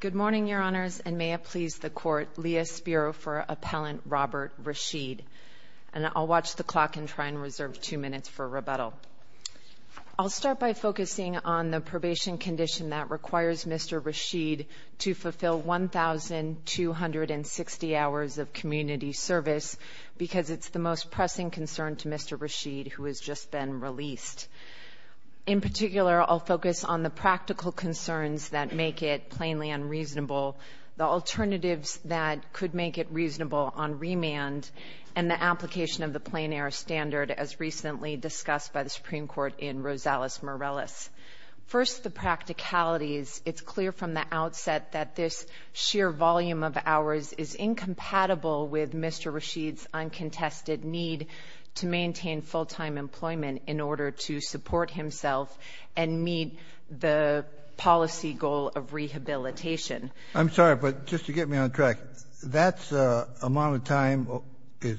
Good morning, Your Honors, and may it please the Court, Leah Spiro for Appellant Robert Rasheed. And I'll watch the clock and try and reserve two minutes for rebuttal. I'll start by focusing on the probation condition that requires Mr. Rasheed to fulfill 1,260 hours of community service because it's the most pressing concern to Mr. Rasheed, who has just been released. In particular, I'll focus on the practical concerns that make it plainly unreasonable, the alternatives that could make it reasonable on remand, and the application of the plain-errors standard as recently discussed by the Supreme Court in Rosales-Morales. First, the practicalities. It's clear from the outset that this sheer volume of hours is incompatible with Mr. Rasheed's uncontested need to maintain full-time employment in order to support himself and meet the policy goal of rehabilitation. I'm sorry, but just to get me on track, that amount of time is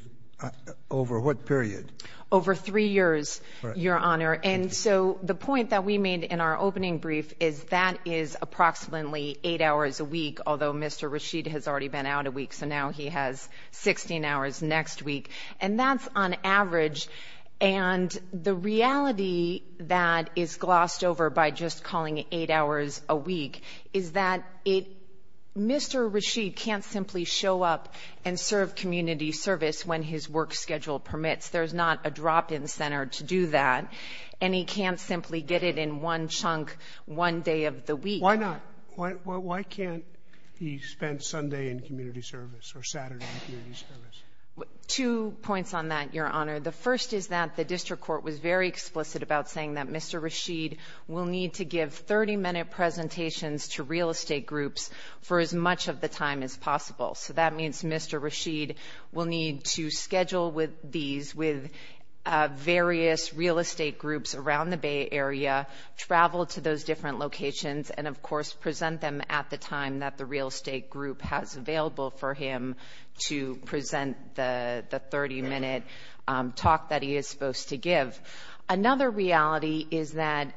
over what period? Over three years, Your Honor. And so the point that we made in our opening brief is that is approximately eight hours a week, although Mr. Rasheed has already been out a week, so now he has 16 hours next week. And that's on average. And the reality that is glossed over by just calling it eight hours a week is that it Mr. Rasheed can't simply show up and serve community service when his work schedule permits. There's not a drop-in center to do that, and he can't simply get it in one chunk one day of the week. Why not? Why can't he spend Sunday in community service or Saturday in community service? Two points on that, Your Honor. The first is that the district court was very explicit about saying that Mr. Rasheed will need to give 30-minute presentations to real estate groups for as much of the time as possible. So that means Mr. Rasheed will need to schedule these with various real estate groups around the Bay Area, travel to those different locations, and of course present them at the time that the real estate group has available for him to present the 30-minute talk that he is supposed to give. Another reality is that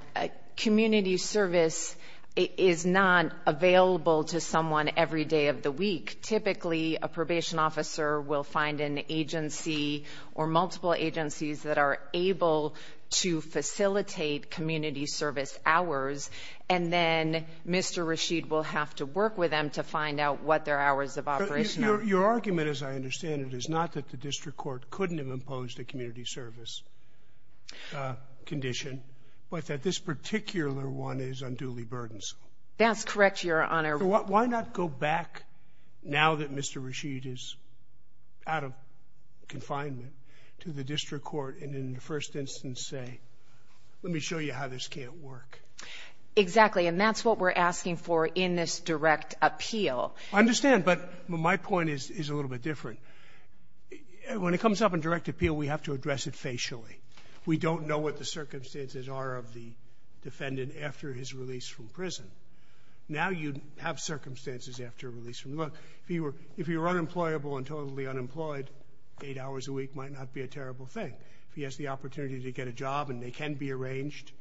community service is not available to someone every day of the week. Typically, a probation officer will find an agency or multiple agencies that are able to facilitate community service hours, and then Mr. Rasheed will have to work with them to find out what their hours of operation are. Your argument, as I understand it, is not that the district court couldn't have imposed a community service condition, but that this particular one is unduly burdensome. That's correct, Your Honor. Why not go back, now that Mr. Rasheed is out of confinement, to the district court and in the first instance say, let me show you how this can't work. Exactly, and that's what we're asking for in this direct appeal. I understand, but my point is a little bit different. When it comes up in direct appeal, we have to address it facially. We don't know what the circumstances are of the defendant after his release from prison. Now you have circumstances after release from prison. If he were unemployable and totally unemployed, eight hours a week might not be a terrible thing. If he has the opportunity to get a job and they can be arranged,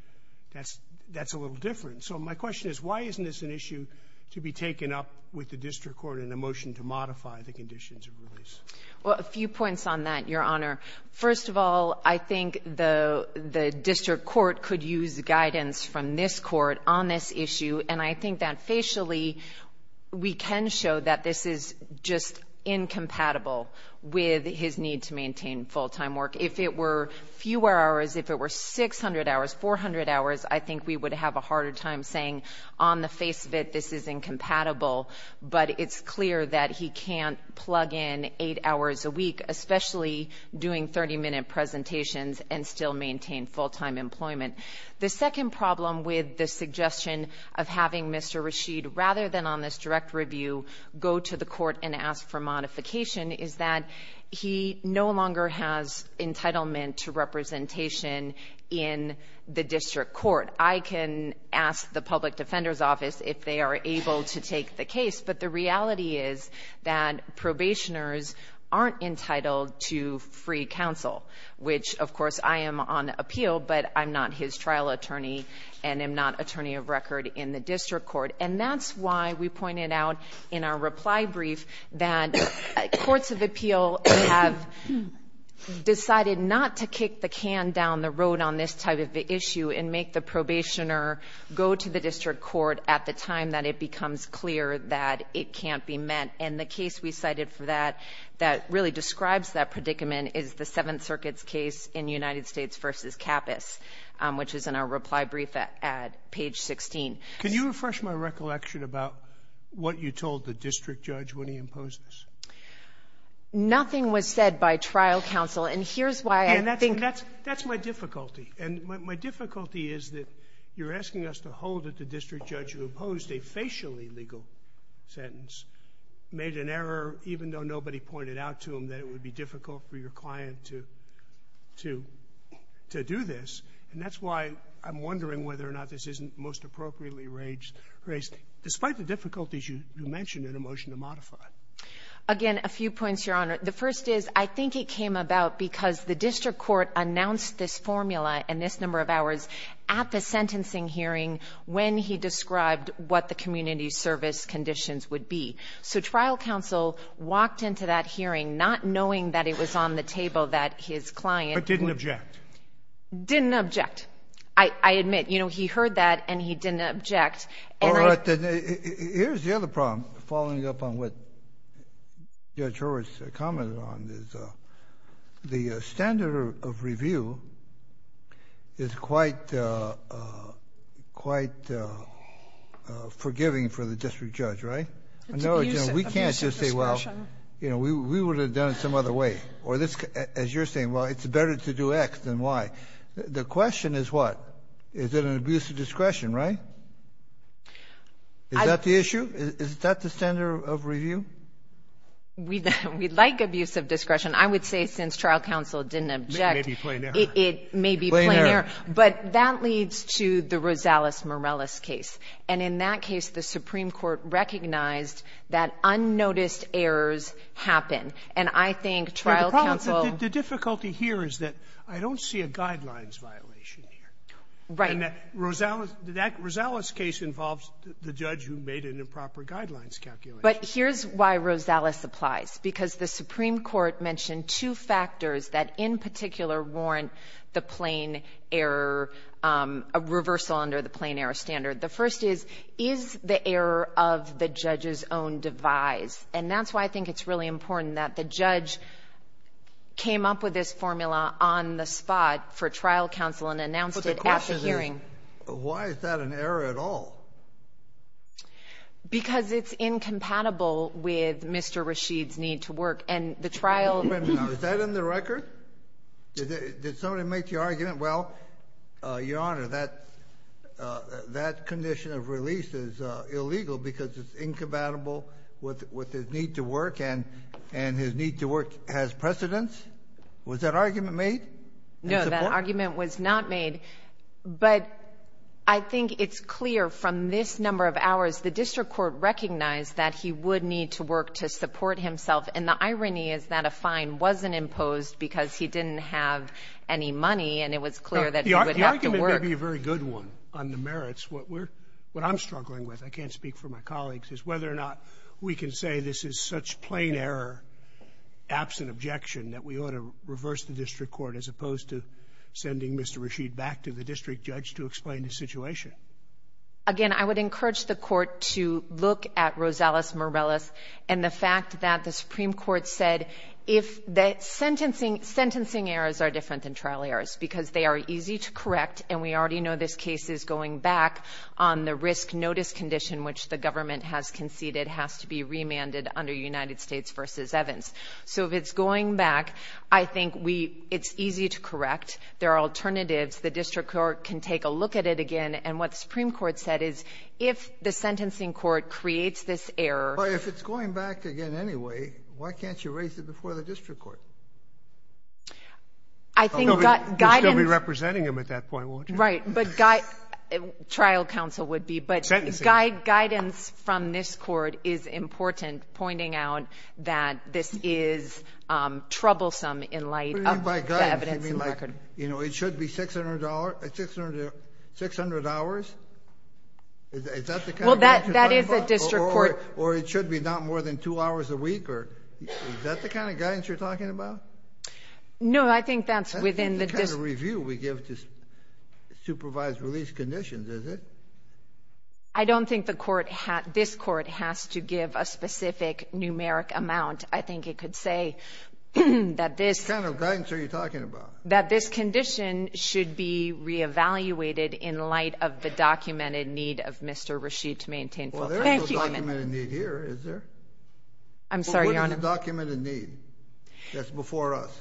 that's a little different. So my question is, why isn't this an issue to be taken up with the district court in a motion to modify the conditions of release? Well, a few points on that, Your Honor. First of all, I think the district court could use guidance from this court on this issue, and I think that facially we can show that this is just incompatible with his need to maintain full-time work. If it were fewer hours, if it were 600 hours, 400 hours, I think we would have a harder time saying on the face of it this is incompatible. But it's clear that he can't plug in eight hours a week, especially doing 30-minute presentations and still maintain full-time employment. The second problem with the suggestion of having Mr. Rashid, rather than on this direct review go to the court and ask for modification, is that he no longer has entitlement to representation in the district court. I can ask the public defender's office if they are able to take the case, but the reality is that probationers aren't entitled to free counsel, which, of course, I am on appeal, but I'm not his trial attorney and am not attorney of record in the district court. And that's why we pointed out in our reply brief that courts of appeal have decided not to kick the can down the road on this type of issue and make the probationer go to the district court at the time that it becomes clear that it can't be met. And the case we cited for that, that really describes that predicament, is the Seventh Circuit's case in United States v. Capas, which is in our reply brief at page 16. Can you refresh my recollection about what you told the district judge when he imposed this? Nothing was said by trial counsel, and here's why I think — And that's my difficulty. And my difficulty is that you're asking us to hold that the district judge who imposed a facially legal sentence made an error, even though nobody pointed out to him that it would be difficult for your client to do this. And that's why I'm wondering whether or not this isn't most appropriately raised, despite the difficulties you mentioned in a motion to modify. Again, a few points, Your Honor. The first is, I think it came about because the district court announced this formula and this number of hours at the sentencing hearing when he described what the community service conditions would be. So trial counsel walked into that hearing not knowing that it was on the table that his client — But didn't object. Didn't object. I admit, you know, he heard that and he didn't object. And I — All right. Then here's the other problem, following up on what Judge Horwitz commented on, is the standard of review is quite — quite forgiving for the district judge, right? It's abusive. It's abusive discretion. No, we can't just say, well, you know, we would have done it some other way. Or this, as you're saying, well, it's better to do X than Y. The question is what? Is it an abusive discretion, right? Is that the issue? Is that the standard of review? We'd like abusive discretion. I would say since trial counsel didn't object — It may be plain error. It may be plain error. But that leads to the Rosales-Morales case. And in that case, the Supreme Court recognized that unnoticed errors happen. And I think trial counsel — But the problem is that the difficulty here is that I don't see a guidelines violation here. Right. And that Rosales — that Rosales case involves the judge who made an improper guidelines calculation. But here's why Rosales applies, because the Supreme Court mentioned two factors that in particular warrant the plain error reversal under the plain error standard. The first is, is the error of the judge's own device? And that's why I think it's really important that the judge came up with this formula on the spot for trial counsel and announced it at the hearing. But the question is, why is that an error at all? Because it's incompatible with Mr. Rasheed's need to work. And the trial — Wait a minute now. Is that in the record? Did somebody make the argument, well, Your Honor, that condition of release is illegal because it's incompatible with his need to work and his need to work has precedence? Was that argument made? No, that argument was not made. But I think it's clear from this number of hours the district court recognized that he would need to work to support himself. And the irony is that a fine wasn't imposed because he didn't have any money, and it was clear that he would have to work. The argument may be a very good one on the merits. What we're — what I'm struggling with, I can't speak for my colleagues, is whether or not we can say this is such plain error, absent objection, that we ought to reverse the district court as opposed to sending Mr. Rasheed back to the district judge to explain the situation. Again, I would encourage the Court to look at Rosales-Morales and the fact that the Supreme Court said if the sentencing — sentencing errors are different than trial errors because they are easy to correct, and we already know this case is going back on the risk-notice condition, which the government has conceded has to be remanded under United States v. Evans. So if it's going back, I think we — it's easy to correct. There are alternatives. The district court can take a look at it again. And what the Supreme Court said is if the sentencing court creates this error — Sotomayor, if it's going back again anyway, why can't you raise it before the district court? I think — It's going to be representing him at that point, won't it? But — trial counsel would be, but guidance from this court is important, pointing out that this is troublesome in light of the evidence in the record. What do you mean by guidance? You mean like, you know, it should be 600 hours? Is that the kind of guidance you're talking about? Well, that is a district court — Or it should be not more than two hours a week? Is that the kind of guidance you're talking about? No, I think that's within the — I don't think the court — this court has to give a specific numeric amount. I think it could say that this — What kind of guidance are you talking about? That this condition should be re-evaluated in light of the documented need of Mr. Rasheed to maintain — Well, there is no documented need here, is there? I'm sorry, Your Honor. But what is the documented need that's before us?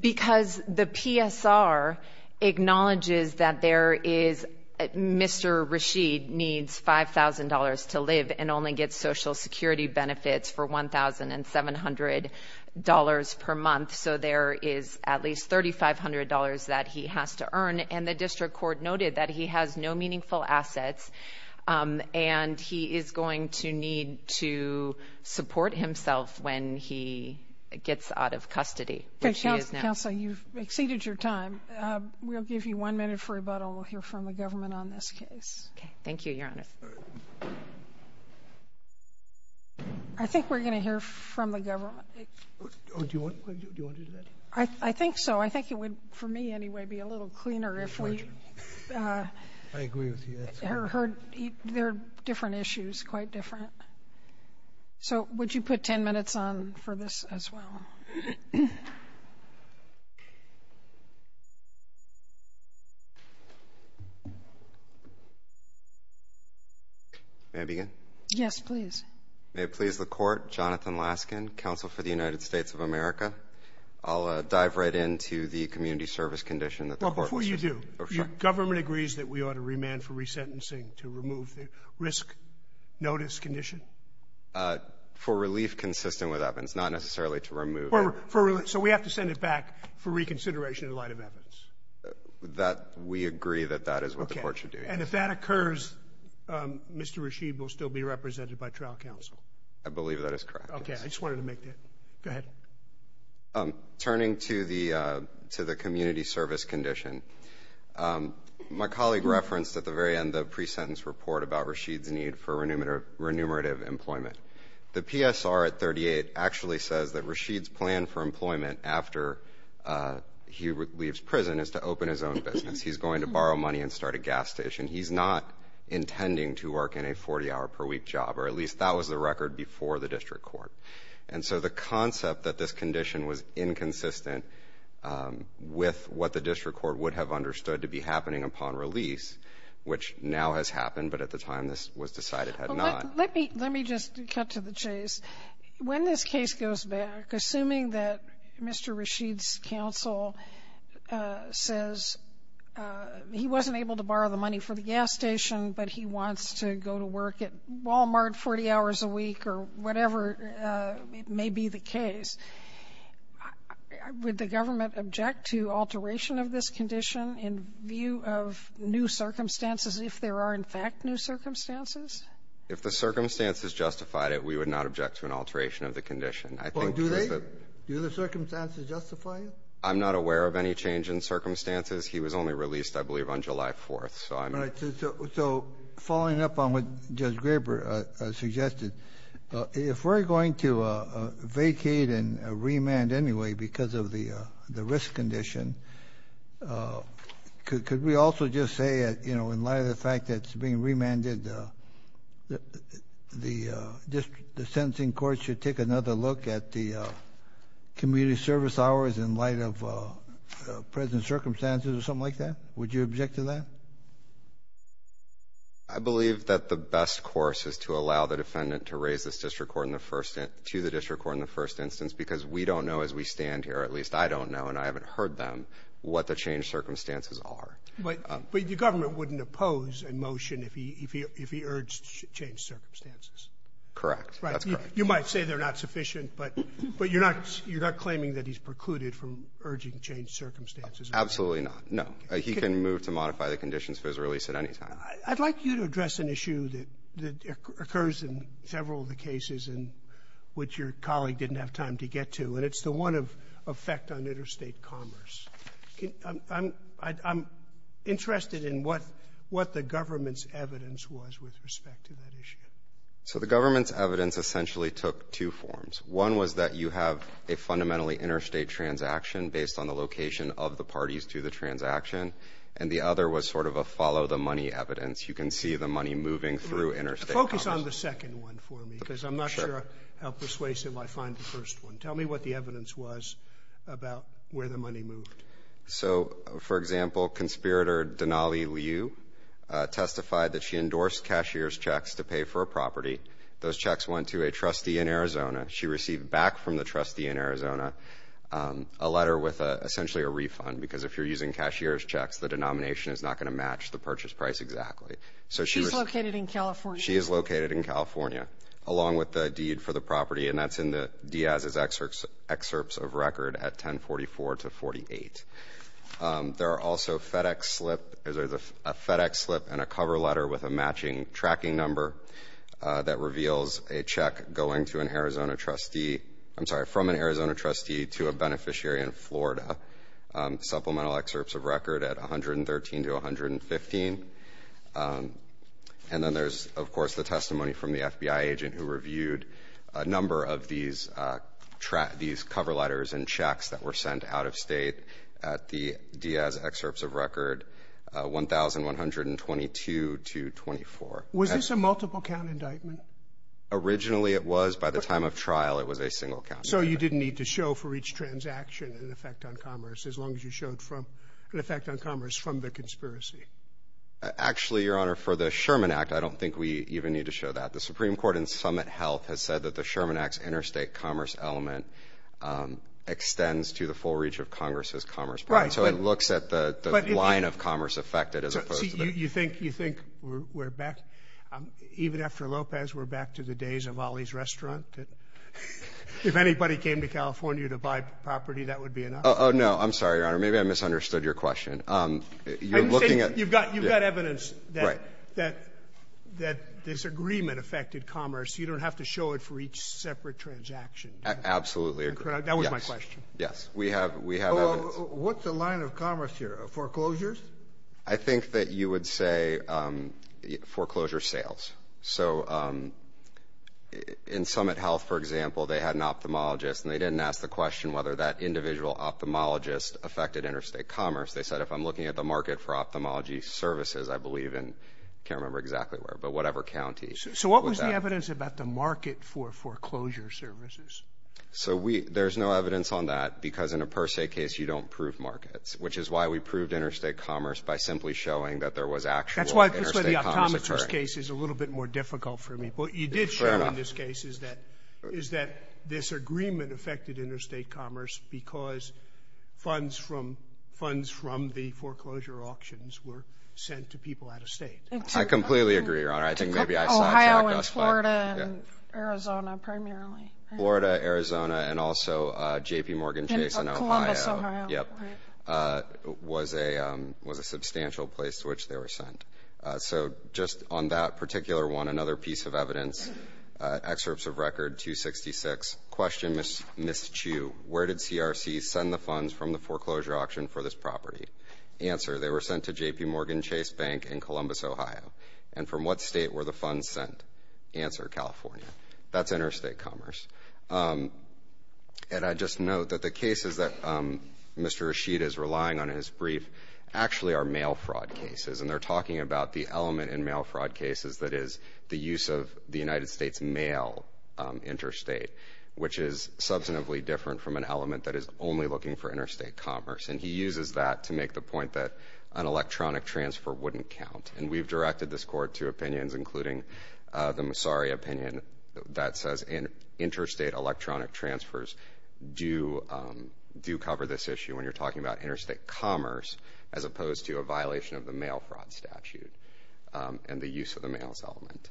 Because the PSR acknowledges that there is — Mr. Rasheed needs $5,000 to live and only gets Social Security benefits for $1,700 per month, so there is at least $3,500 that he has to earn, and the district court noted that he has no meaningful assets, and he is going to need to support himself when he gets out of custody. Okay. Counsel, you've exceeded your time. We'll give you one minute for rebuttal. We'll hear from the government on this case. Okay. Thank you, Your Honor. I think we're going to hear from the government. Do you want to do that? I think so. I think it would, for me anyway, be a little cleaner if we — I agree with you. There are different issues, quite different. So would you put 10 minutes on for this as well? May I begin? Yes, please. May it please the Court, Jonathan Laskin, Counsel for the United States of America. I'll dive right into the community service condition that the court was — Well, before you do — Oh, sorry. Government agrees that we ought to remand for resentencing to remove the risk notice condition? For relief consistent with Evans, not necessarily to remove it. So we have to send it back for reconsideration in light of Evans? We agree that that is what the court should do, yes. Okay. And if that occurs, Mr. Rashid will still be represented by trial counsel? I believe that is correct, yes. Okay. I just wanted to make that. Go ahead. Turning to the community service condition, my colleague referenced at the very end the pre-sentence report about Rashid's need for renumerative employment. The PSR at 38 actually says that Rashid's plan for employment after he leaves prison is to open his own business. He's going to borrow money and start a gas station. He's not intending to work in a 40-hour-per-week job, or at least that was the record before the district court. And so the concept that this condition was inconsistent with what the district court would have understood to be happening upon release, which now has happened, but at the time this was decided had not. Let me just cut to the chase. When this case goes back, assuming that Mr. Rashid's counsel says he wasn't able to borrow the money for the gas station, but he wants to go to work at Wal-Mart 40 hours a week or whatever may be the case, would the government object to alteration of this condition in view of new circumstances if there are, in fact, new circumstances? If the circumstances justified it, we would not object to an alteration of the condition. I think that the ---- Well, do they? Do the circumstances justify it? I'm not aware of any change in circumstances. So following up on what Judge Graber suggested, if we're going to vacate and remand anyway because of the risk condition, could we also just say in light of the fact that it's being remanded, the sentencing court should take another look at the community service hours in light of present circumstances or something like that? Would you object to that? I believe that the best course is to allow the defendant to raise this to the district court in the first instance because we don't know as we stand here, at least I don't know and I haven't heard them, what the changed circumstances are. But the government wouldn't oppose a motion if he urged changed circumstances. Correct. That's correct. You might say they're not sufficient, but you're not claiming that he's precluded from urging changed circumstances. Absolutely not. No. He can move to modify the conditions for his release at any time. I'd like you to address an issue that occurs in several of the cases in which your colleague didn't have time to get to, and it's the one of effect on interstate commerce. I'm interested in what the government's evidence was with respect to that issue. So the government's evidence essentially took two forms. One was that you have a fundamentally interstate transaction based on the location of the parties to the transaction, and the other was sort of a follow the money evidence. You can see the money moving through interstate commerce. Focus on the second one for me because I'm not sure how persuasive I find the first one. Tell me what the evidence was about where the money moved. So, for example, conspirator Denali Liu testified that she endorsed cashier's checks to pay for a property. Those checks went to a trustee in Arizona. She received back from the trustee in Arizona a letter with essentially a refund because if you're using cashier's checks, the denomination is not going to match the purchase price exactly. She's located in California. She is located in California, along with the deed for the property, and that's in Diaz's excerpts of record at 1044-48. There are also a FedEx slip and a cover letter with a matching tracking number that reveals a check going to an Arizona trustee. I'm sorry, from an Arizona trustee to a beneficiary in Florida. Supplemental excerpts of record at 113 to 115. And then there's, of course, the testimony from the FBI agent who reviewed a number of these cover letters and checks that were sent out of State at the Diaz excerpts of record 1,122 to 24. Was this a multiple count indictment? Originally, it was. By the time of trial, it was a single count indictment. So you didn't need to show for each transaction an effect on commerce, as long as you showed an effect on commerce from the conspiracy? Actually, Your Honor, for the Sherman Act, I don't think we even need to show that. The Supreme Court in Summit Health has said that the Sherman Act's interstate commerce element extends to the full reach of Congress's commerce program, so it looks at the line of commerce affected as opposed to the— You think we're back? Even after Lopez, we're back to the days of Ollie's Restaurant? If anybody came to California to buy property, that would be enough? Oh, no, I'm sorry, Your Honor. Maybe I misunderstood your question. You've got evidence that this agreement affected commerce. You don't have to show it for each separate transaction. I absolutely agree. That was my question. Yes, we have evidence. What's the line of commerce here? Foreclosures? I think that you would say foreclosure sales. So in Summit Health, for example, they had an ophthalmologist, and they didn't ask the question whether that individual ophthalmologist affected interstate commerce. They said, if I'm looking at the market for ophthalmology services, I believe, and I can't remember exactly where, but whatever county. So what was the evidence about the market for foreclosure services? So there's no evidence on that because in a per se case, you don't prove markets, which is why we proved interstate commerce by simply showing that there was actual interstate commerce occurring. That's why the ophthalmologist case is a little bit more difficult for me. But you did show in this case is that this agreement affected interstate commerce because funds from the foreclosure auctions were sent to people out of state. I completely agree, Your Honor. I think maybe I signed some of those. Ohio and Florida and Arizona primarily. Florida, Arizona, and also J.P. Morgan Chase and Ohio. Columbus, Ohio. Yep. Was a substantial place to which they were sent. So just on that particular one, another piece of evidence, Excerpts of Record 266, question Ms. Chu, where did CRC send the funds from the foreclosure auction for this property? Answer, they were sent to J.P. Morgan Chase Bank in Columbus, Ohio. And from what state were the funds sent? Answer, California. That's interstate commerce. And I just note that the cases that Mr. Rashid is relying on in his brief actually are mail fraud cases. And they're talking about the element in mail fraud cases that is the use of the United States mail interstate, which is substantively different from an element that is only looking for interstate commerce. And he uses that to make the point that an electronic transfer wouldn't count. And we've directed this court to opinions, including the Massari opinion, that says interstate electronic transfers do cover this issue when you're talking about interstate commerce, as opposed to a violation of the mail fraud statute and the use of the mails element.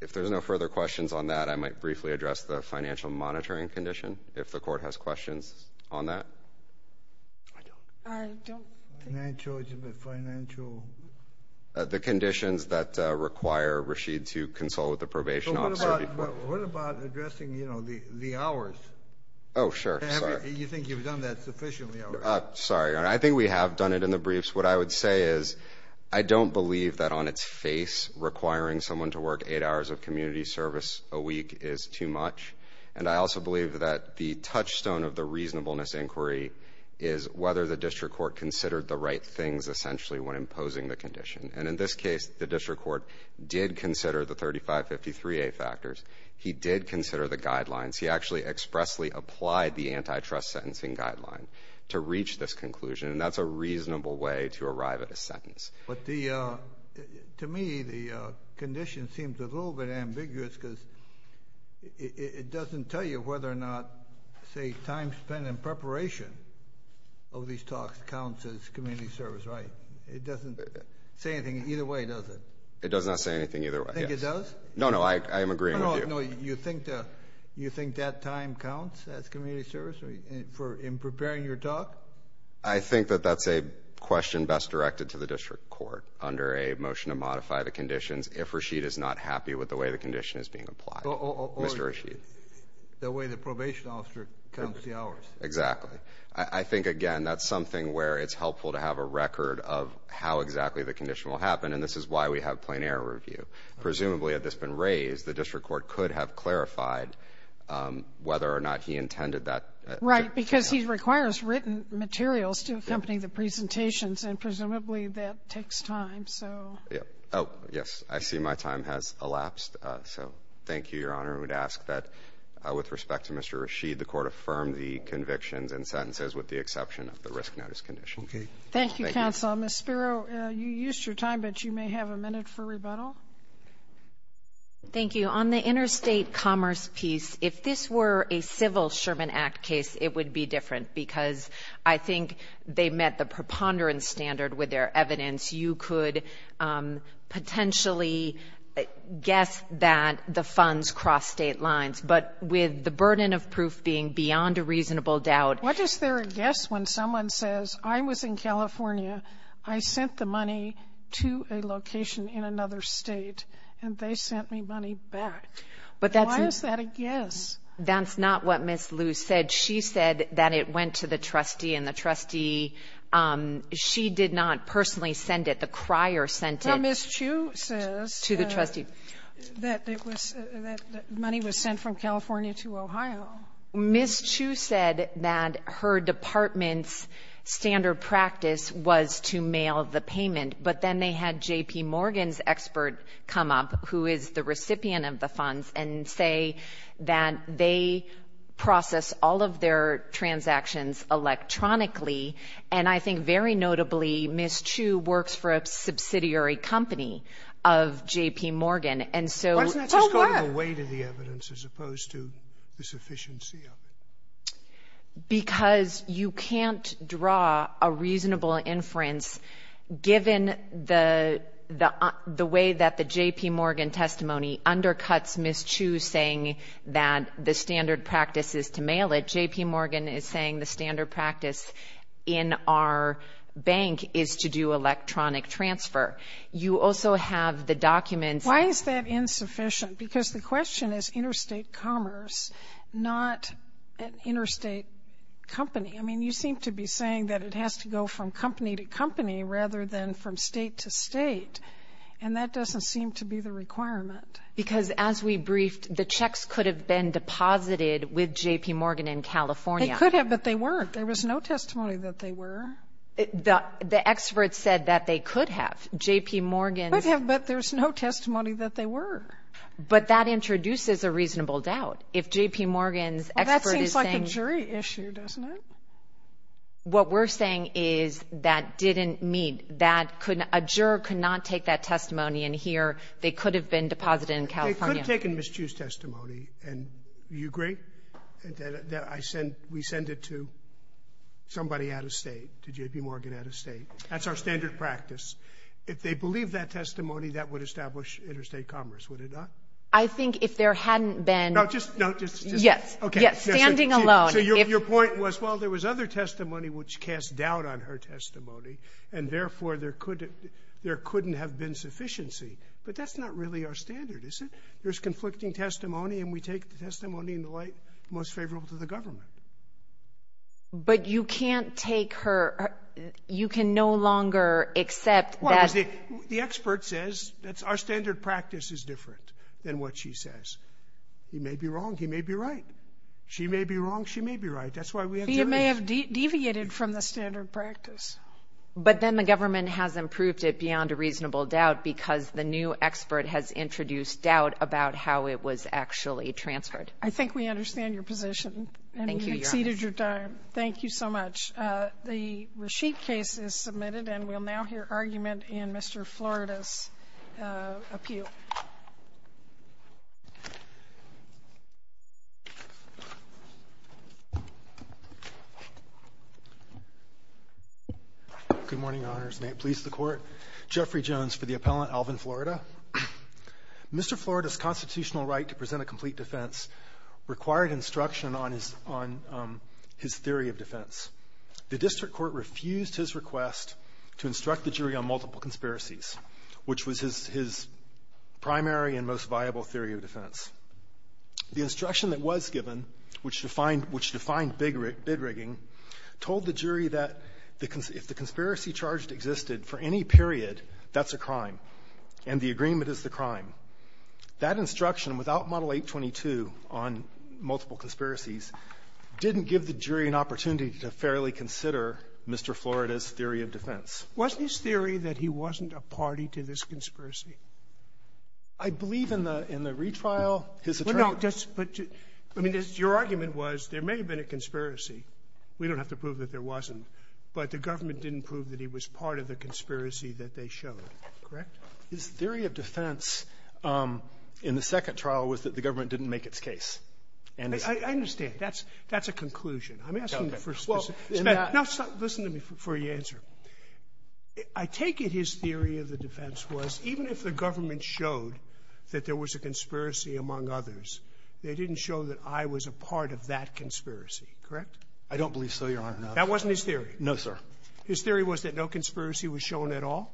If there's no further questions on that, I might briefly address the financial monitoring condition, if the court has questions on that. I don't. Financial, financial. The conditions that require Rashid to consult with the probation officer before. What about addressing, you know, the hours? Oh, sure. You think you've done that sufficiently? Sorry. I think we have done it in the briefs. What I would say is I don't believe that on its face requiring someone to work eight hours of community service a week is too much. And I also believe that the touchstone of the reasonableness inquiry is whether the district court considered the right things, essentially, when imposing the condition. And in this case, the district court did consider the 3553A factors. He did consider the guidelines. He actually expressly applied the antitrust sentencing guideline to reach this conclusion. To me, the condition seems a little bit ambiguous because it doesn't tell you whether or not, say, time spent in preparation of these talks counts as community service, right? It doesn't say anything either way, does it? It does not say anything either way. You think it does? No, no. I am agreeing with you. No, no. You think that time counts as community service in preparing your talk? I think that that's a question best directed to the district court under a motion to modify the conditions if Rashid is not happy with the way the condition is being applied. Mr. Rashid. The way the probation officer counts the hours. Exactly. I think, again, that's something where it's helpful to have a record of how exactly the condition will happen, and this is why we have plein air review. Presumably, had this been raised, the district court could have clarified whether or not he intended that. Right, because he requires written materials to accompany the presentations, and presumably that takes time, so. Oh, yes. I see my time has elapsed, so thank you, Your Honor. I would ask that with respect to Mr. Rashid, the Court affirm the convictions and sentences with the exception of the risk notice condition. Okay. Thank you, counsel. Ms. Spiro, you used your time, but you may have a minute for rebuttal. Thank you. So on the interstate commerce piece, if this were a civil Sherman Act case, it would be different because I think they met the preponderance standard with their evidence. You could potentially guess that the funds cross state lines, but with the burden of proof being beyond a reasonable doubt. What is their guess when someone says, I was in California, I sent the money to a location in another state, and they sent me money back? Why is that a guess? That's not what Ms. Lu said. She said that it went to the trustee, and the trustee, she did not personally send it. The crier sent it. No, Ms. Chu says that it was that money was sent from California to Ohio. Ms. Chu said that her department's standard practice was to mail the payment, but then they had J.P. Morgan's expert come up, who is the recipient of the funds, and say that they process all of their transactions electronically, and I think very notably Ms. Chu works for a subsidiary company of J.P. Morgan, and so oh, what? What's going to weigh to the evidence as opposed to the sufficiency of it? Because you can't draw a reasonable inference given the way that the J.P. Morgan testimony undercuts Ms. Chu saying that the standard practice is to mail it. J.P. Morgan is saying the standard practice in our bank is to do electronic transfer. You also have the documents. Why is that insufficient? Because the question is interstate commerce, not an interstate company. I mean, you seem to be saying that it has to go from company to company rather than from state to state, and that doesn't seem to be the requirement. Because as we briefed, the checks could have been deposited with J.P. Morgan in California. They could have, but they weren't. There was no testimony that they were. The experts said that they could have. J.P. Morgan's ---- But that introduces a reasonable doubt. If J.P. Morgan's expert is saying ---- Well, that seems like a jury issue, doesn't it? What we're saying is that didn't meet, that a juror could not take that testimony and here they could have been deposited in California. They could have taken Ms. Chu's testimony, and you agree that we send it to somebody out of state, to J.P. Morgan out of state. That's our standard practice. If they believe that testimony, that would establish interstate commerce, would it not? I think if there hadn't been ---- No, just ---- Yes, standing alone. So your point was, well, there was other testimony which cast doubt on her testimony, and therefore there couldn't have been sufficiency. But that's not really our standard, is it? There's conflicting testimony, and we take the testimony in the light most favorable to the government. But you can't take her ---- you can no longer accept that ---- Well, the expert says that our standard practice is different than what she says. He may be wrong, he may be right. She may be wrong, she may be right. That's why we have ---- He may have deviated from the standard practice. But then the government has improved it beyond a reasonable doubt because the new expert has introduced doubt about how it was actually transferred. I think we understand your position. Thank you, Your Honor. And we've exceeded your time. Thank you so much. The Rasheed case is submitted, and we'll now hear argument in Mr. Florida's appeal. Good morning, Your Honors. May it please the Court. Jeffrey Jones for the appellant, Alvin, Florida. Mr. Florida's constitutional right to present a complete defense required instruction on his theory of defense. The district court refused his request to instruct the jury on multiple conspiracies, which was his primary and most viable theory of defense. The instruction that was given, which defined bid rigging, told the jury that if the agreement is the crime, that instruction without Model 822 on multiple conspiracies didn't give the jury an opportunity to fairly consider Mr. Florida's theory of defense. Wasn't his theory that he wasn't a party to this conspiracy? I believe in the retrial his attorney ---- No. But your argument was there may have been a conspiracy. We don't have to prove that there wasn't. But the government didn't prove that he was part of the conspiracy that they showed. Correct? His theory of defense in the second trial was that the government didn't make its case. And it's ---- I understand. That's a conclusion. I'm asking for ---- Okay. Well, in that ---- Now listen to me before you answer. I take it his theory of the defense was even if the government showed that there was a conspiracy among others, they didn't show that I was a part of that conspiracy. Correct? I don't believe so, Your Honor. That wasn't his theory? No, sir. His theory was that no conspiracy was shown at all?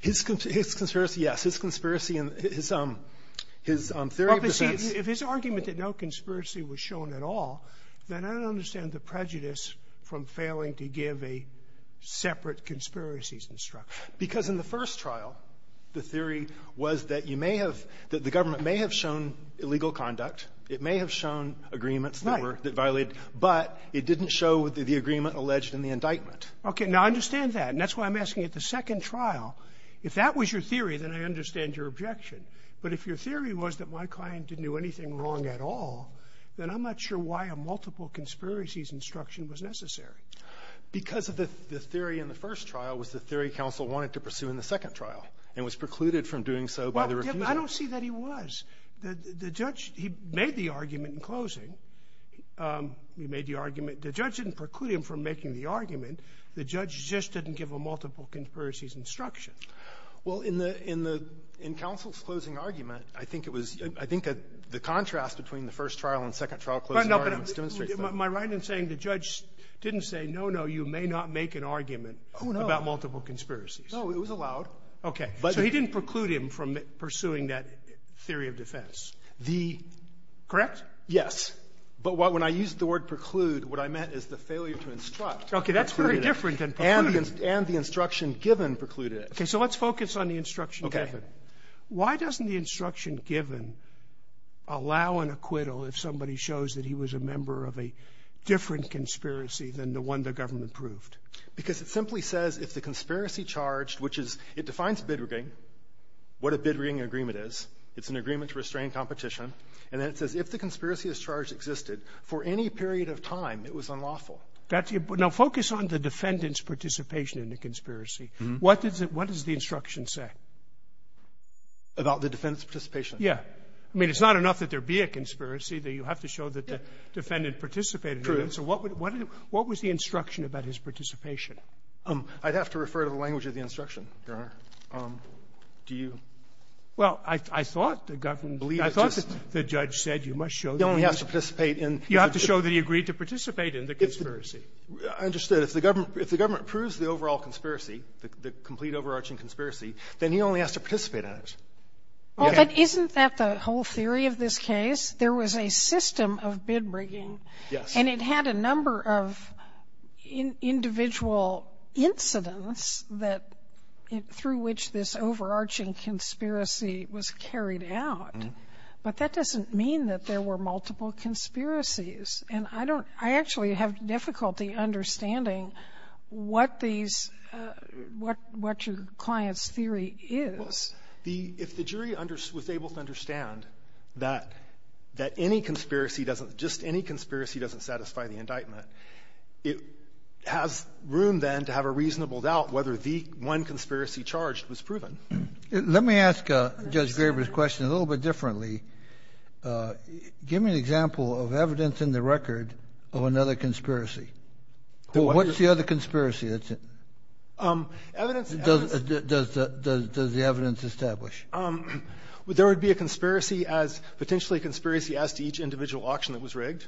His conspiracy, yes. His conspiracy and his theory of defense ---- Well, but see, if his argument that no conspiracy was shown at all, then I don't understand the prejudice from failing to give a separate conspiracies instruction. Because in the first trial, the theory was that you may have ---- that the government may have shown illegal conduct. It may have shown agreements that were ---- Right. That violated. But it didn't show the agreement alleged in the indictment. Okay. Now, I understand that. And that's why I'm asking at the second trial, if that was your theory, then I understand your objection. But if your theory was that my client didn't do anything wrong at all, then I'm not sure why a multiple conspiracies instruction was necessary. Because of the theory in the first trial was the theory counsel wanted to pursue in the second trial and was precluded from doing so by the refusal. Well, I don't see that he was. The judge, he made the argument in closing. He made the argument. The judge didn't preclude him from making the argument. The judge just didn't give a multiple conspiracies instruction. Well, in the ---- in counsel's closing argument, I think it was ---- I think the contrast between the first trial and second trial closing arguments demonstrates that. My right in saying the judge didn't say, no, no, you may not make an argument about multiple conspiracies. No, it was allowed. Okay. So he didn't preclude him from pursuing that theory of defense. The ---- Correct? Yes. But when I used the word preclude, what I meant is the failure to instruct. Okay. That's very different than preclude. And the instruction given precluded it. Okay. So let's focus on the instruction given. Okay. Why doesn't the instruction given allow an acquittal if somebody shows that he was a member of a different conspiracy than the one the government proved? Because it simply says if the conspiracy charged, which is ---- it defines bidrigging, what a bidrigging agreement is. It's an agreement to restrain competition. And then it says if the conspiracy as charged existed for any period of time, it was unlawful. That's your ---- Now, focus on the defendant's participation in the conspiracy. What does the instruction say? About the defendant's participation. Yeah. I mean, it's not enough that there be a conspiracy, that you have to show that the defendant participated in it. True. So what would the ---- what was the instruction about his participation? I'd have to refer to the language of the instruction, Your Honor. Do you ---- Well, I thought the government ---- I thought the judge said you must show that he was ---- He only has to participate in ---- You have to show that he agreed to participate in the conspiracy. I understood. If the government ---- if the government proves the overall conspiracy, the complete overarching conspiracy, then he only has to participate in it. Well, but isn't that the whole theory of this case? There was a system of bidrigging. Yes. And it had a number of individual incidents that ---- through which this overarching conspiracy was carried out. But that doesn't mean that there were multiple conspiracies. And I don't ---- I actually have difficulty understanding what these ---- what your client's theory is. The ---- if the jury was able to understand that any conspiracy doesn't ---- just any conspiracy doesn't satisfy the indictment, it has room, then, to have a reasonable doubt whether the one conspiracy charged was proven. Let me ask Judge Graber's question a little bit differently. Give me an example of evidence in the record of another conspiracy. What's the other conspiracy that's ---- does the evidence establish? There would be a conspiracy as ---- potentially a conspiracy as to each individual auction that was rigged.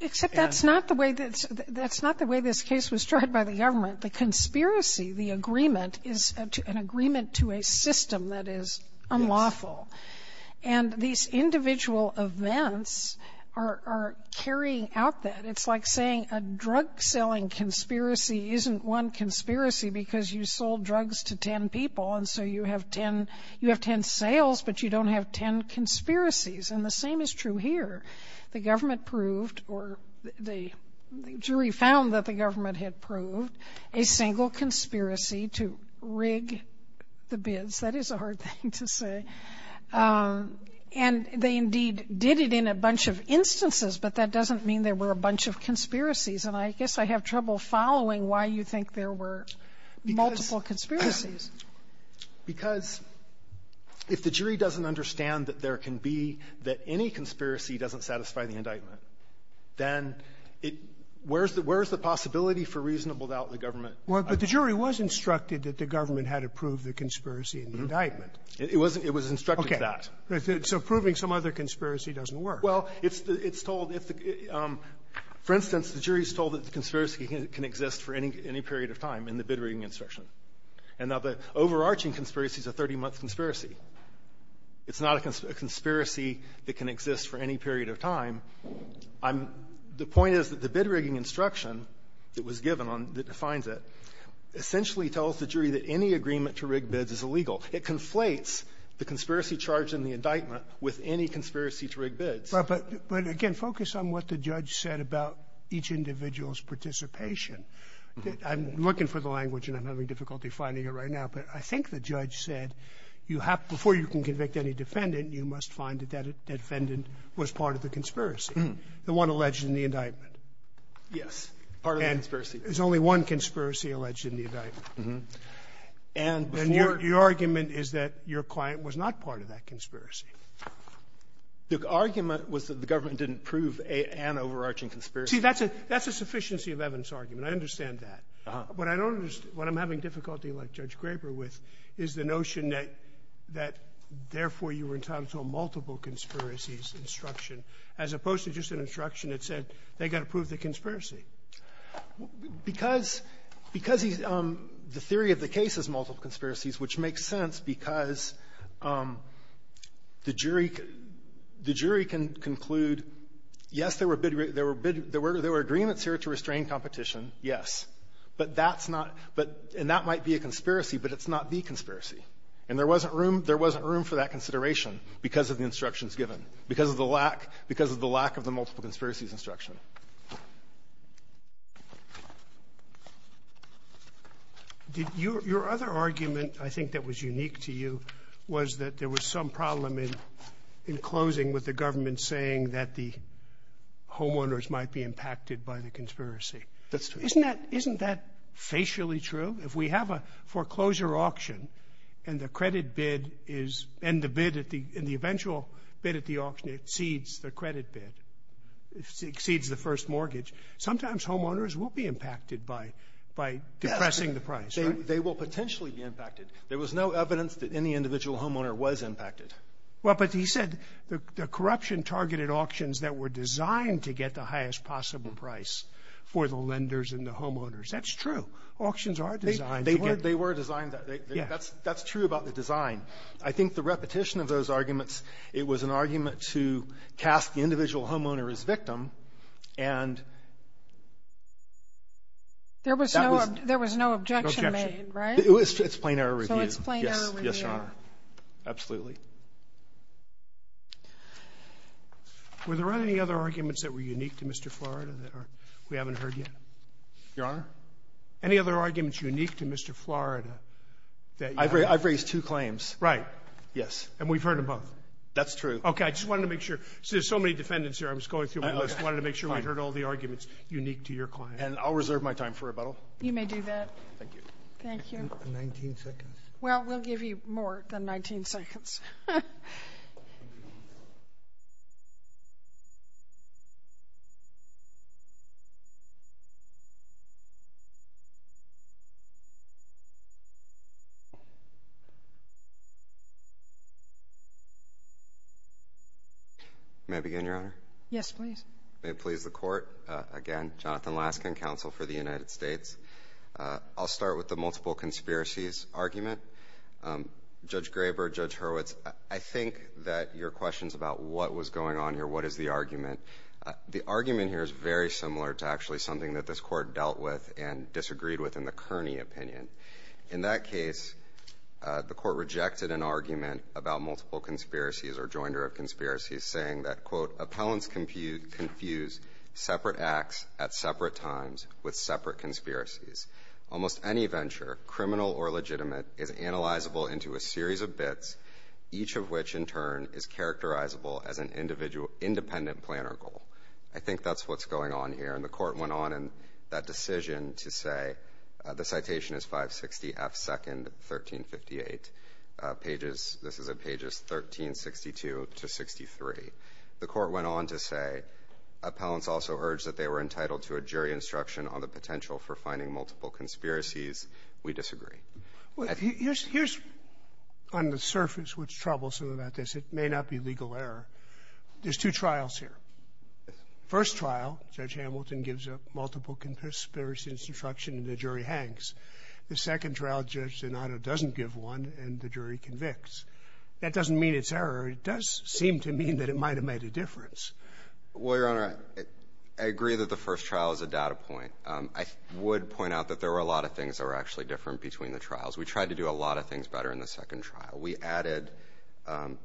Except that's not the way that's ---- that's not the way this case was tried by the government. The conspiracy, the agreement, is an agreement to a system that is unlawful. And these individual events are carrying out that. It's like saying a drug-selling conspiracy isn't one conspiracy because you sold drugs to 10 people, and so you have 10 ---- you have 10 sales, but you don't have 10 conspiracies. And the same is true here. The government proved or the jury found that the government had proved a single conspiracy to rig the bids. That is a hard thing to say. And they indeed did it in a bunch of instances, but that doesn't mean there were a bunch of conspiracies. And I guess I have trouble following why you think there were multiple conspiracies. Because if the jury doesn't understand that there can be ---- that any conspiracy doesn't satisfy the indictment, then it ---- where's the possibility for reasonable doubt the government ---- Sotomayor, but the jury was instructed that the government had approved the conspiracy in the indictment. It wasn't. It was instructed that. So proving some other conspiracy doesn't work. Well, it's told if the ---- for instance, the jury is told that the conspiracy can exist for any period of time in the bid-rigging instruction. And now, the overarching conspiracy is a 30-month conspiracy. It's not a conspiracy that can exist for any period of time. I'm ---- the point is that the bid-rigging instruction that was given on ---- that defines it essentially tells the jury that any agreement to rig bids is illegal. It conflates the conspiracy charge in the indictment with any conspiracy to rig bids. But again, focus on what the judge said about each individual's participation. I'm looking for the language, and I'm having difficulty finding it right now, but I think the judge said you have to ---- before you can convict any defendant, you must find that that defendant was part of the conspiracy, the one alleged in the indictment. Yes, part of the conspiracy. And there's only one conspiracy alleged in the indictment. Uh-huh. And before ---- And your argument is that your client was not part of that conspiracy. The argument was that the government didn't prove an overarching conspiracy. See, that's a ---- that's a sufficiency of evidence argument. I understand that. Uh-huh. What I don't understand, what I'm having difficulty, like Judge Graber, with, is the notion that, therefore, you were entitled to a multiple conspiracies instruction, as opposed to just an instruction that said they've got to prove the conspiracy. Because he's ---- the theory of the case is multiple conspiracies, which makes sense because the jury can conclude, yes, there were bid ---- there were agreements here to restrain competition, yes. But that's not ---- but ---- and that might be a conspiracy, but it's not the conspiracy. And there wasn't room ---- there wasn't room for that consideration because of the instructions given, because of the lack ---- because of the lack of the multiple conspiracies instruction. Did your ---- your other argument, I think, that was unique to you was that there was some problem in ---- in closing with the government saying that the homeowners might be impacted by the conspiracy. That's true. Isn't that ---- isn't that facially true? If we have a foreclosure auction and the credit bid is ---- and the bid at the ---- and the eventual bid at the auction exceeds the credit bid, exceeds the first mortgage, sometimes homeowners will be impacted by ---- by depressing the price, right? They will potentially be impacted. There was no evidence that any individual homeowner was impacted. Well, but he said the corruption targeted auctions that were designed to get the highest possible price for the lenders and the homeowners. That's true. Auctions are designed to get ---- They were designed to ---- Yeah. That's true about the design. I think the repetition of those arguments, it was an argument to cast the individual homeowner as victim, and that was ---- There was no objection made, right? It was plain error review. So it's plain error review. Yes, Your Honor. Absolutely. Were there any other arguments that were unique to Mr. Florida that we haven't heard yet? Your Honor? Any other arguments unique to Mr. Florida that you haven't heard? I've raised two claims. Right. Yes. And we've heard them both. That's true. Okay. I just wanted to make sure. There's so many defendants here. I was going through my list. I wanted to make sure we heard all the arguments unique to your client. And I'll reserve my time for rebuttal. You may do that. Thank you. Thank you. 19 seconds. Well, we'll give you more than 19 seconds. May I begin, Your Honor? Yes, please. May it please the Court. Again, Jonathan Laskin, counsel for the United States. I'll start with the multiple conspiracies argument. Judge Graber, Judge Hurwitz, I think that your questions about what was going on here, what is the argument, the argument here is very similar to actually something that this Court dealt with and disagreed with in the Kearney opinion. In that case, the Court rejected an argument about multiple conspiracies or joinder of conspiracies, saying that, quote, appellants confuse separate acts at separate times with separate conspiracies. Almost any venture, criminal or legitimate, is analyzable into a series of bits, each of which, in turn, is characterizable as an independent planner goal. I think that's what's going on here. And the Court went on in that decision to say, the citation is 560 F. 2nd, 1358 pages. This is at pages 1362 to 63. The Court went on to say, appellants also urged that they were entitled to a jury instruction on the potential for finding multiple conspiracies. We disagree. Here's, on the surface, what's troublesome about this. It may not be legal error. There's two trials here. First trial, Judge Hamilton gives a multiple conspiracy instruction, and the jury hangs. The second trial, Judge Donato doesn't give one, and the jury convicts. That doesn't mean it's error. It does seem to mean that it might have made a difference. Well, Your Honor, I agree that the first trial is a data point. I would point out that there were a lot of things that were actually different between the trials. We tried to do a lot of things better in the second trial. We added,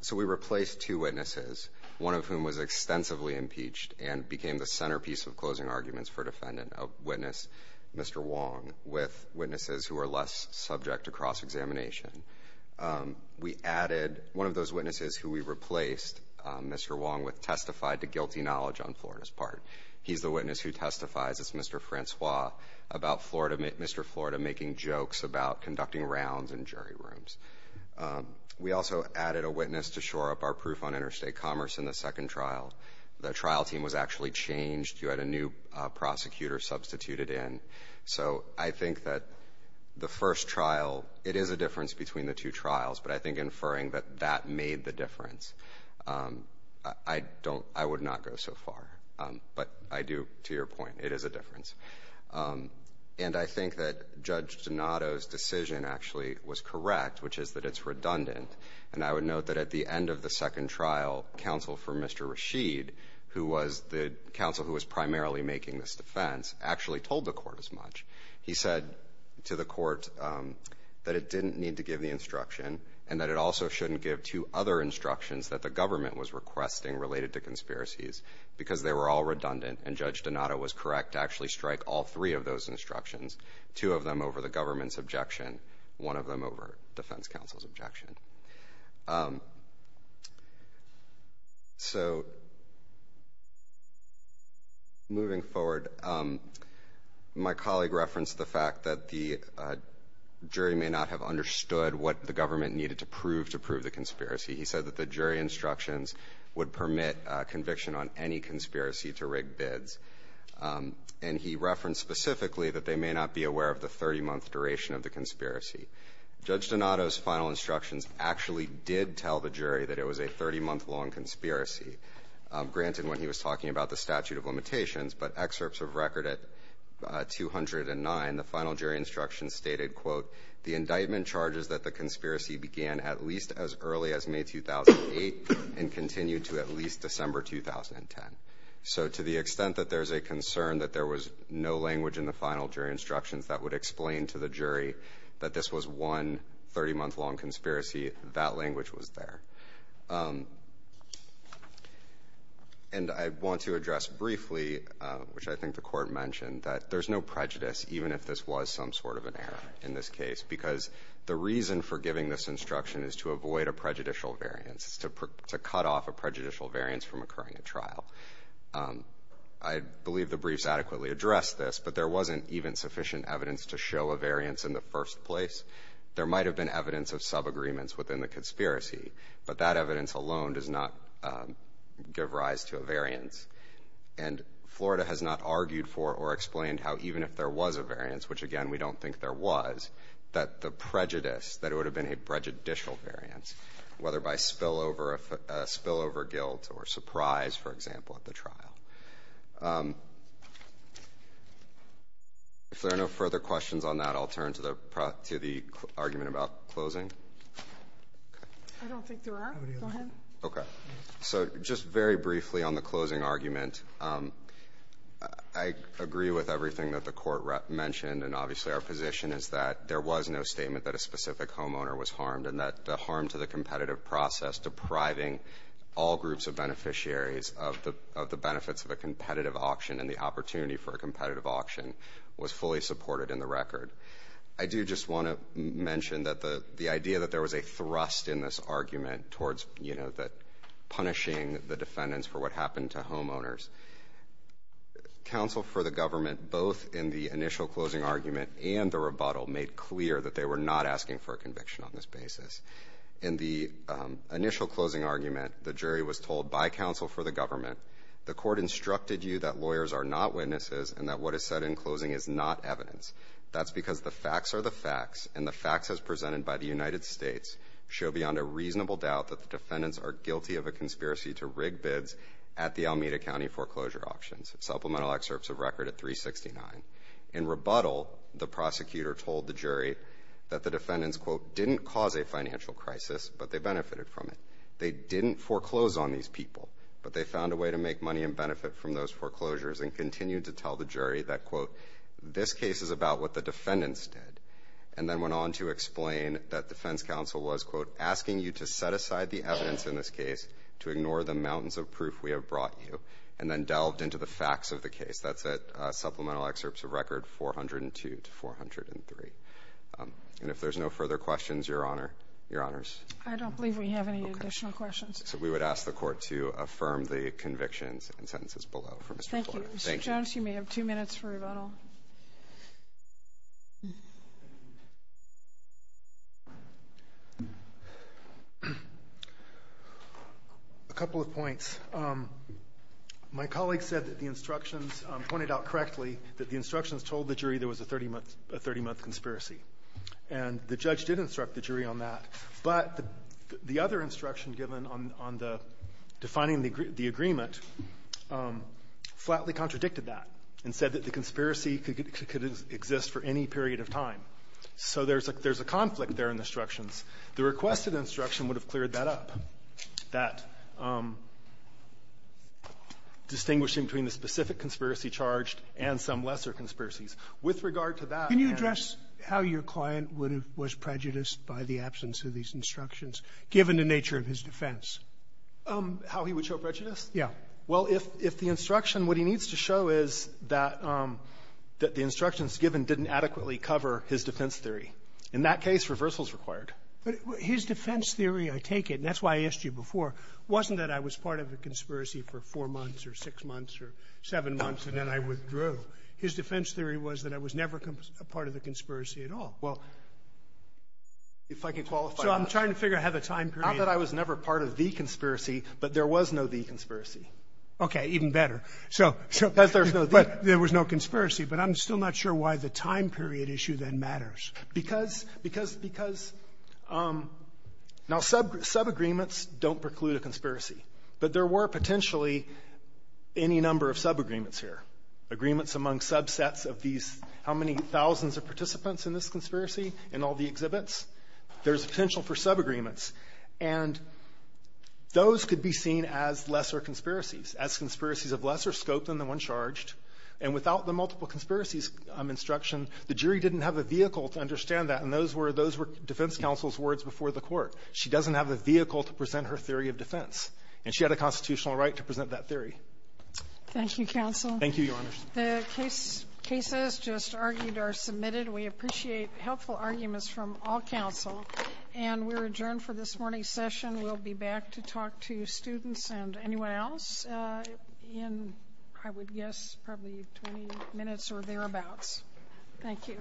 so we replaced two witnesses, one of whom was extensively impeached and became the centerpiece of closing arguments for defendant, a witness, Mr. Wong, with witnesses who are less subject to cross-examination. We added one of those witnesses who we replaced, Mr. Wong, with testified to guilty knowledge on Florida's part. He's the witness who testifies, it's Mr. Francois, about Mr. Florida making jokes about conducting rounds in jury rooms. We also added a witness to shore up our proof on interstate commerce in the second trial. The trial team was actually changed. You had a new prosecutor substituted in. So I think that the first trial, it is a difference between the two trials, but I think inferring that that made the difference, I would not go so far. But I do, to your point, it is a difference. And I think that Judge Donato's decision actually was correct, which is that it's redundant. And I would note that at the end of the second trial, counsel for Mr. Rashid, who was the counsel who was primarily making this defense, actually told the court as much. He said to the court that it didn't need to give the instruction, and that it also shouldn't give two other instructions that the government was requesting related to conspiracies, because they were all redundant. And Judge Donato was correct to actually strike all three of those instructions, two of them over the government's objection, one of them over defense counsel's objection. So moving forward, my colleague referenced the fact that the jury may not have understood what the government needed to prove to prove the conspiracy. He said that the jury instructions would permit conviction on any conspiracy to rig bids. And he referenced specifically that they may not be aware of the 30-month duration of the conspiracy. Judge Donato's final instructions actually did tell the jury that it was a 30-month long conspiracy. Granted, when he was talking about the statute of limitations, but excerpts of record at 209, the final jury instruction stated, quote, the indictment charges that the conspiracy began at least as early as May 2008 and continued to at least December 2010. So to the extent that there's a concern that there was no language in the final jury instructions that would explain to the jury that this was one 30-month long conspiracy, that language was there. And I want to address briefly, which I think the court mentioned, that there's no prejudice even if this was some sort of an error in this case. Because the reason for giving this instruction is to avoid a prejudicial variance, to cut off a prejudicial variance from occurring at trial. I believe the briefs adequately addressed this, but there wasn't even sufficient evidence to show a variance in the first place. There might have been evidence of sub-agreements within the conspiracy, but that evidence alone does not give rise to a variance. And Florida has not argued for or explained how even if there was a variance, which again, we don't think there was, that the prejudice, that it would have been a prejudicial variance, whether by spillover guilt or surprise, for example, at the trial. If there are no further questions on that, I'll turn to the argument about closing. I don't think there are, go ahead. Okay, so just very briefly on the closing argument. I agree with everything that the court mentioned, and obviously our position is that there was no statement that a specific homeowner was harmed, and that the harm to the competitive process depriving all groups of beneficiaries of the benefits of a competitive auction and the opportunity for a competitive auction was fully supported in the record. I do just want to mention that the idea that there was a thrust in this argument towards punishing the defendants for what happened to homeowners. Counsel for the government, both in the initial closing argument and the rebuttal, made clear that they were not asking for a conviction on this basis. In the initial closing argument, the jury was told by counsel for the government, the court instructed you that lawyers are not witnesses and that what is said in closing is not evidence. That's because the facts are the facts, and the facts as presented by the United States show beyond a reasonable doubt that the defendants are guilty of a conspiracy to rig bids at the Alameda County foreclosure auctions. Supplemental excerpts of record at 369. Didn't cause a financial crisis, but they benefited from it. They didn't foreclose on these people, but they found a way to make money and benefit from those foreclosures and continued to tell the jury that, quote, this case is about what the defendants did. And then went on to explain that defense counsel was, quote, asking you to set aside the evidence in this case to ignore the mountains of proof we have brought you, and then delved into the facts of the case. That's at supplemental excerpts of record 402 to 403. And if there's no further questions, Your Honor, Your Honors. I don't believe we have any additional questions. So we would ask the court to affirm the convictions and sentences below. Thank you, Mr. Jones. You may have two minutes for rebuttal. A couple of points. My colleague said that the instructions, pointed out correctly, that the instructions told the jury there was a 30-month conspiracy. And the judge did instruct the jury on that. But the other instruction given on the defining the agreement flatly contradicted that and said that the conspiracy could exist for any period of time. So there's a conflict there in the instructions. The requested instruction would have cleared that up, that distinguishing between the specific conspiracy charged and some lesser conspiracies. With regard to that and the other instructions, I think that's a good point. Sotomayor, can you address how your client would have been prejudiced by the absence of these instructions, given the nature of his defense? How he would show prejudice? Yeah. Well, if the instruction, what he needs to show is that the instructions given didn't adequately cover his defense theory. In that case, reversal is required. But his defense theory, I take it, and that's why I asked you before, wasn't that I was part of a conspiracy for four months or six months or seven months, and then I withdrew. His defense theory was that I was never a part of the conspiracy at all. Well, if I can qualify that. So I'm trying to figure out how the time period of the conspiracy. Not that I was never part of the conspiracy, but there was no the conspiracy. Okay. Even better. So there was no conspiracy. But I'm still not sure why the time period issue then matters. Because, because, because, now, subagreements don't preclude a conspiracy. But there were potentially any number of subagreements here. Agreements among subsets of these, how many thousands of participants in this conspiracy in all the exhibits? There's a potential for subagreements. And those could be seen as lesser conspiracies, as conspiracies of lesser scope than the one charged. And without the multiple conspiracies instruction, the jury didn't have a vehicle to understand that. And those were, those were defense counsel's words before the court. She doesn't have the vehicle to present her theory of defense. And she had a constitutional right to present that theory. Thank you, counsel. Thank you, your honor. The cases just argued are submitted. We appreciate helpful arguments from all counsel. And we're adjourned for this morning's session. We'll be back to talk to students and anyone else in, I would guess, probably 20 minutes or thereabouts. Thank you.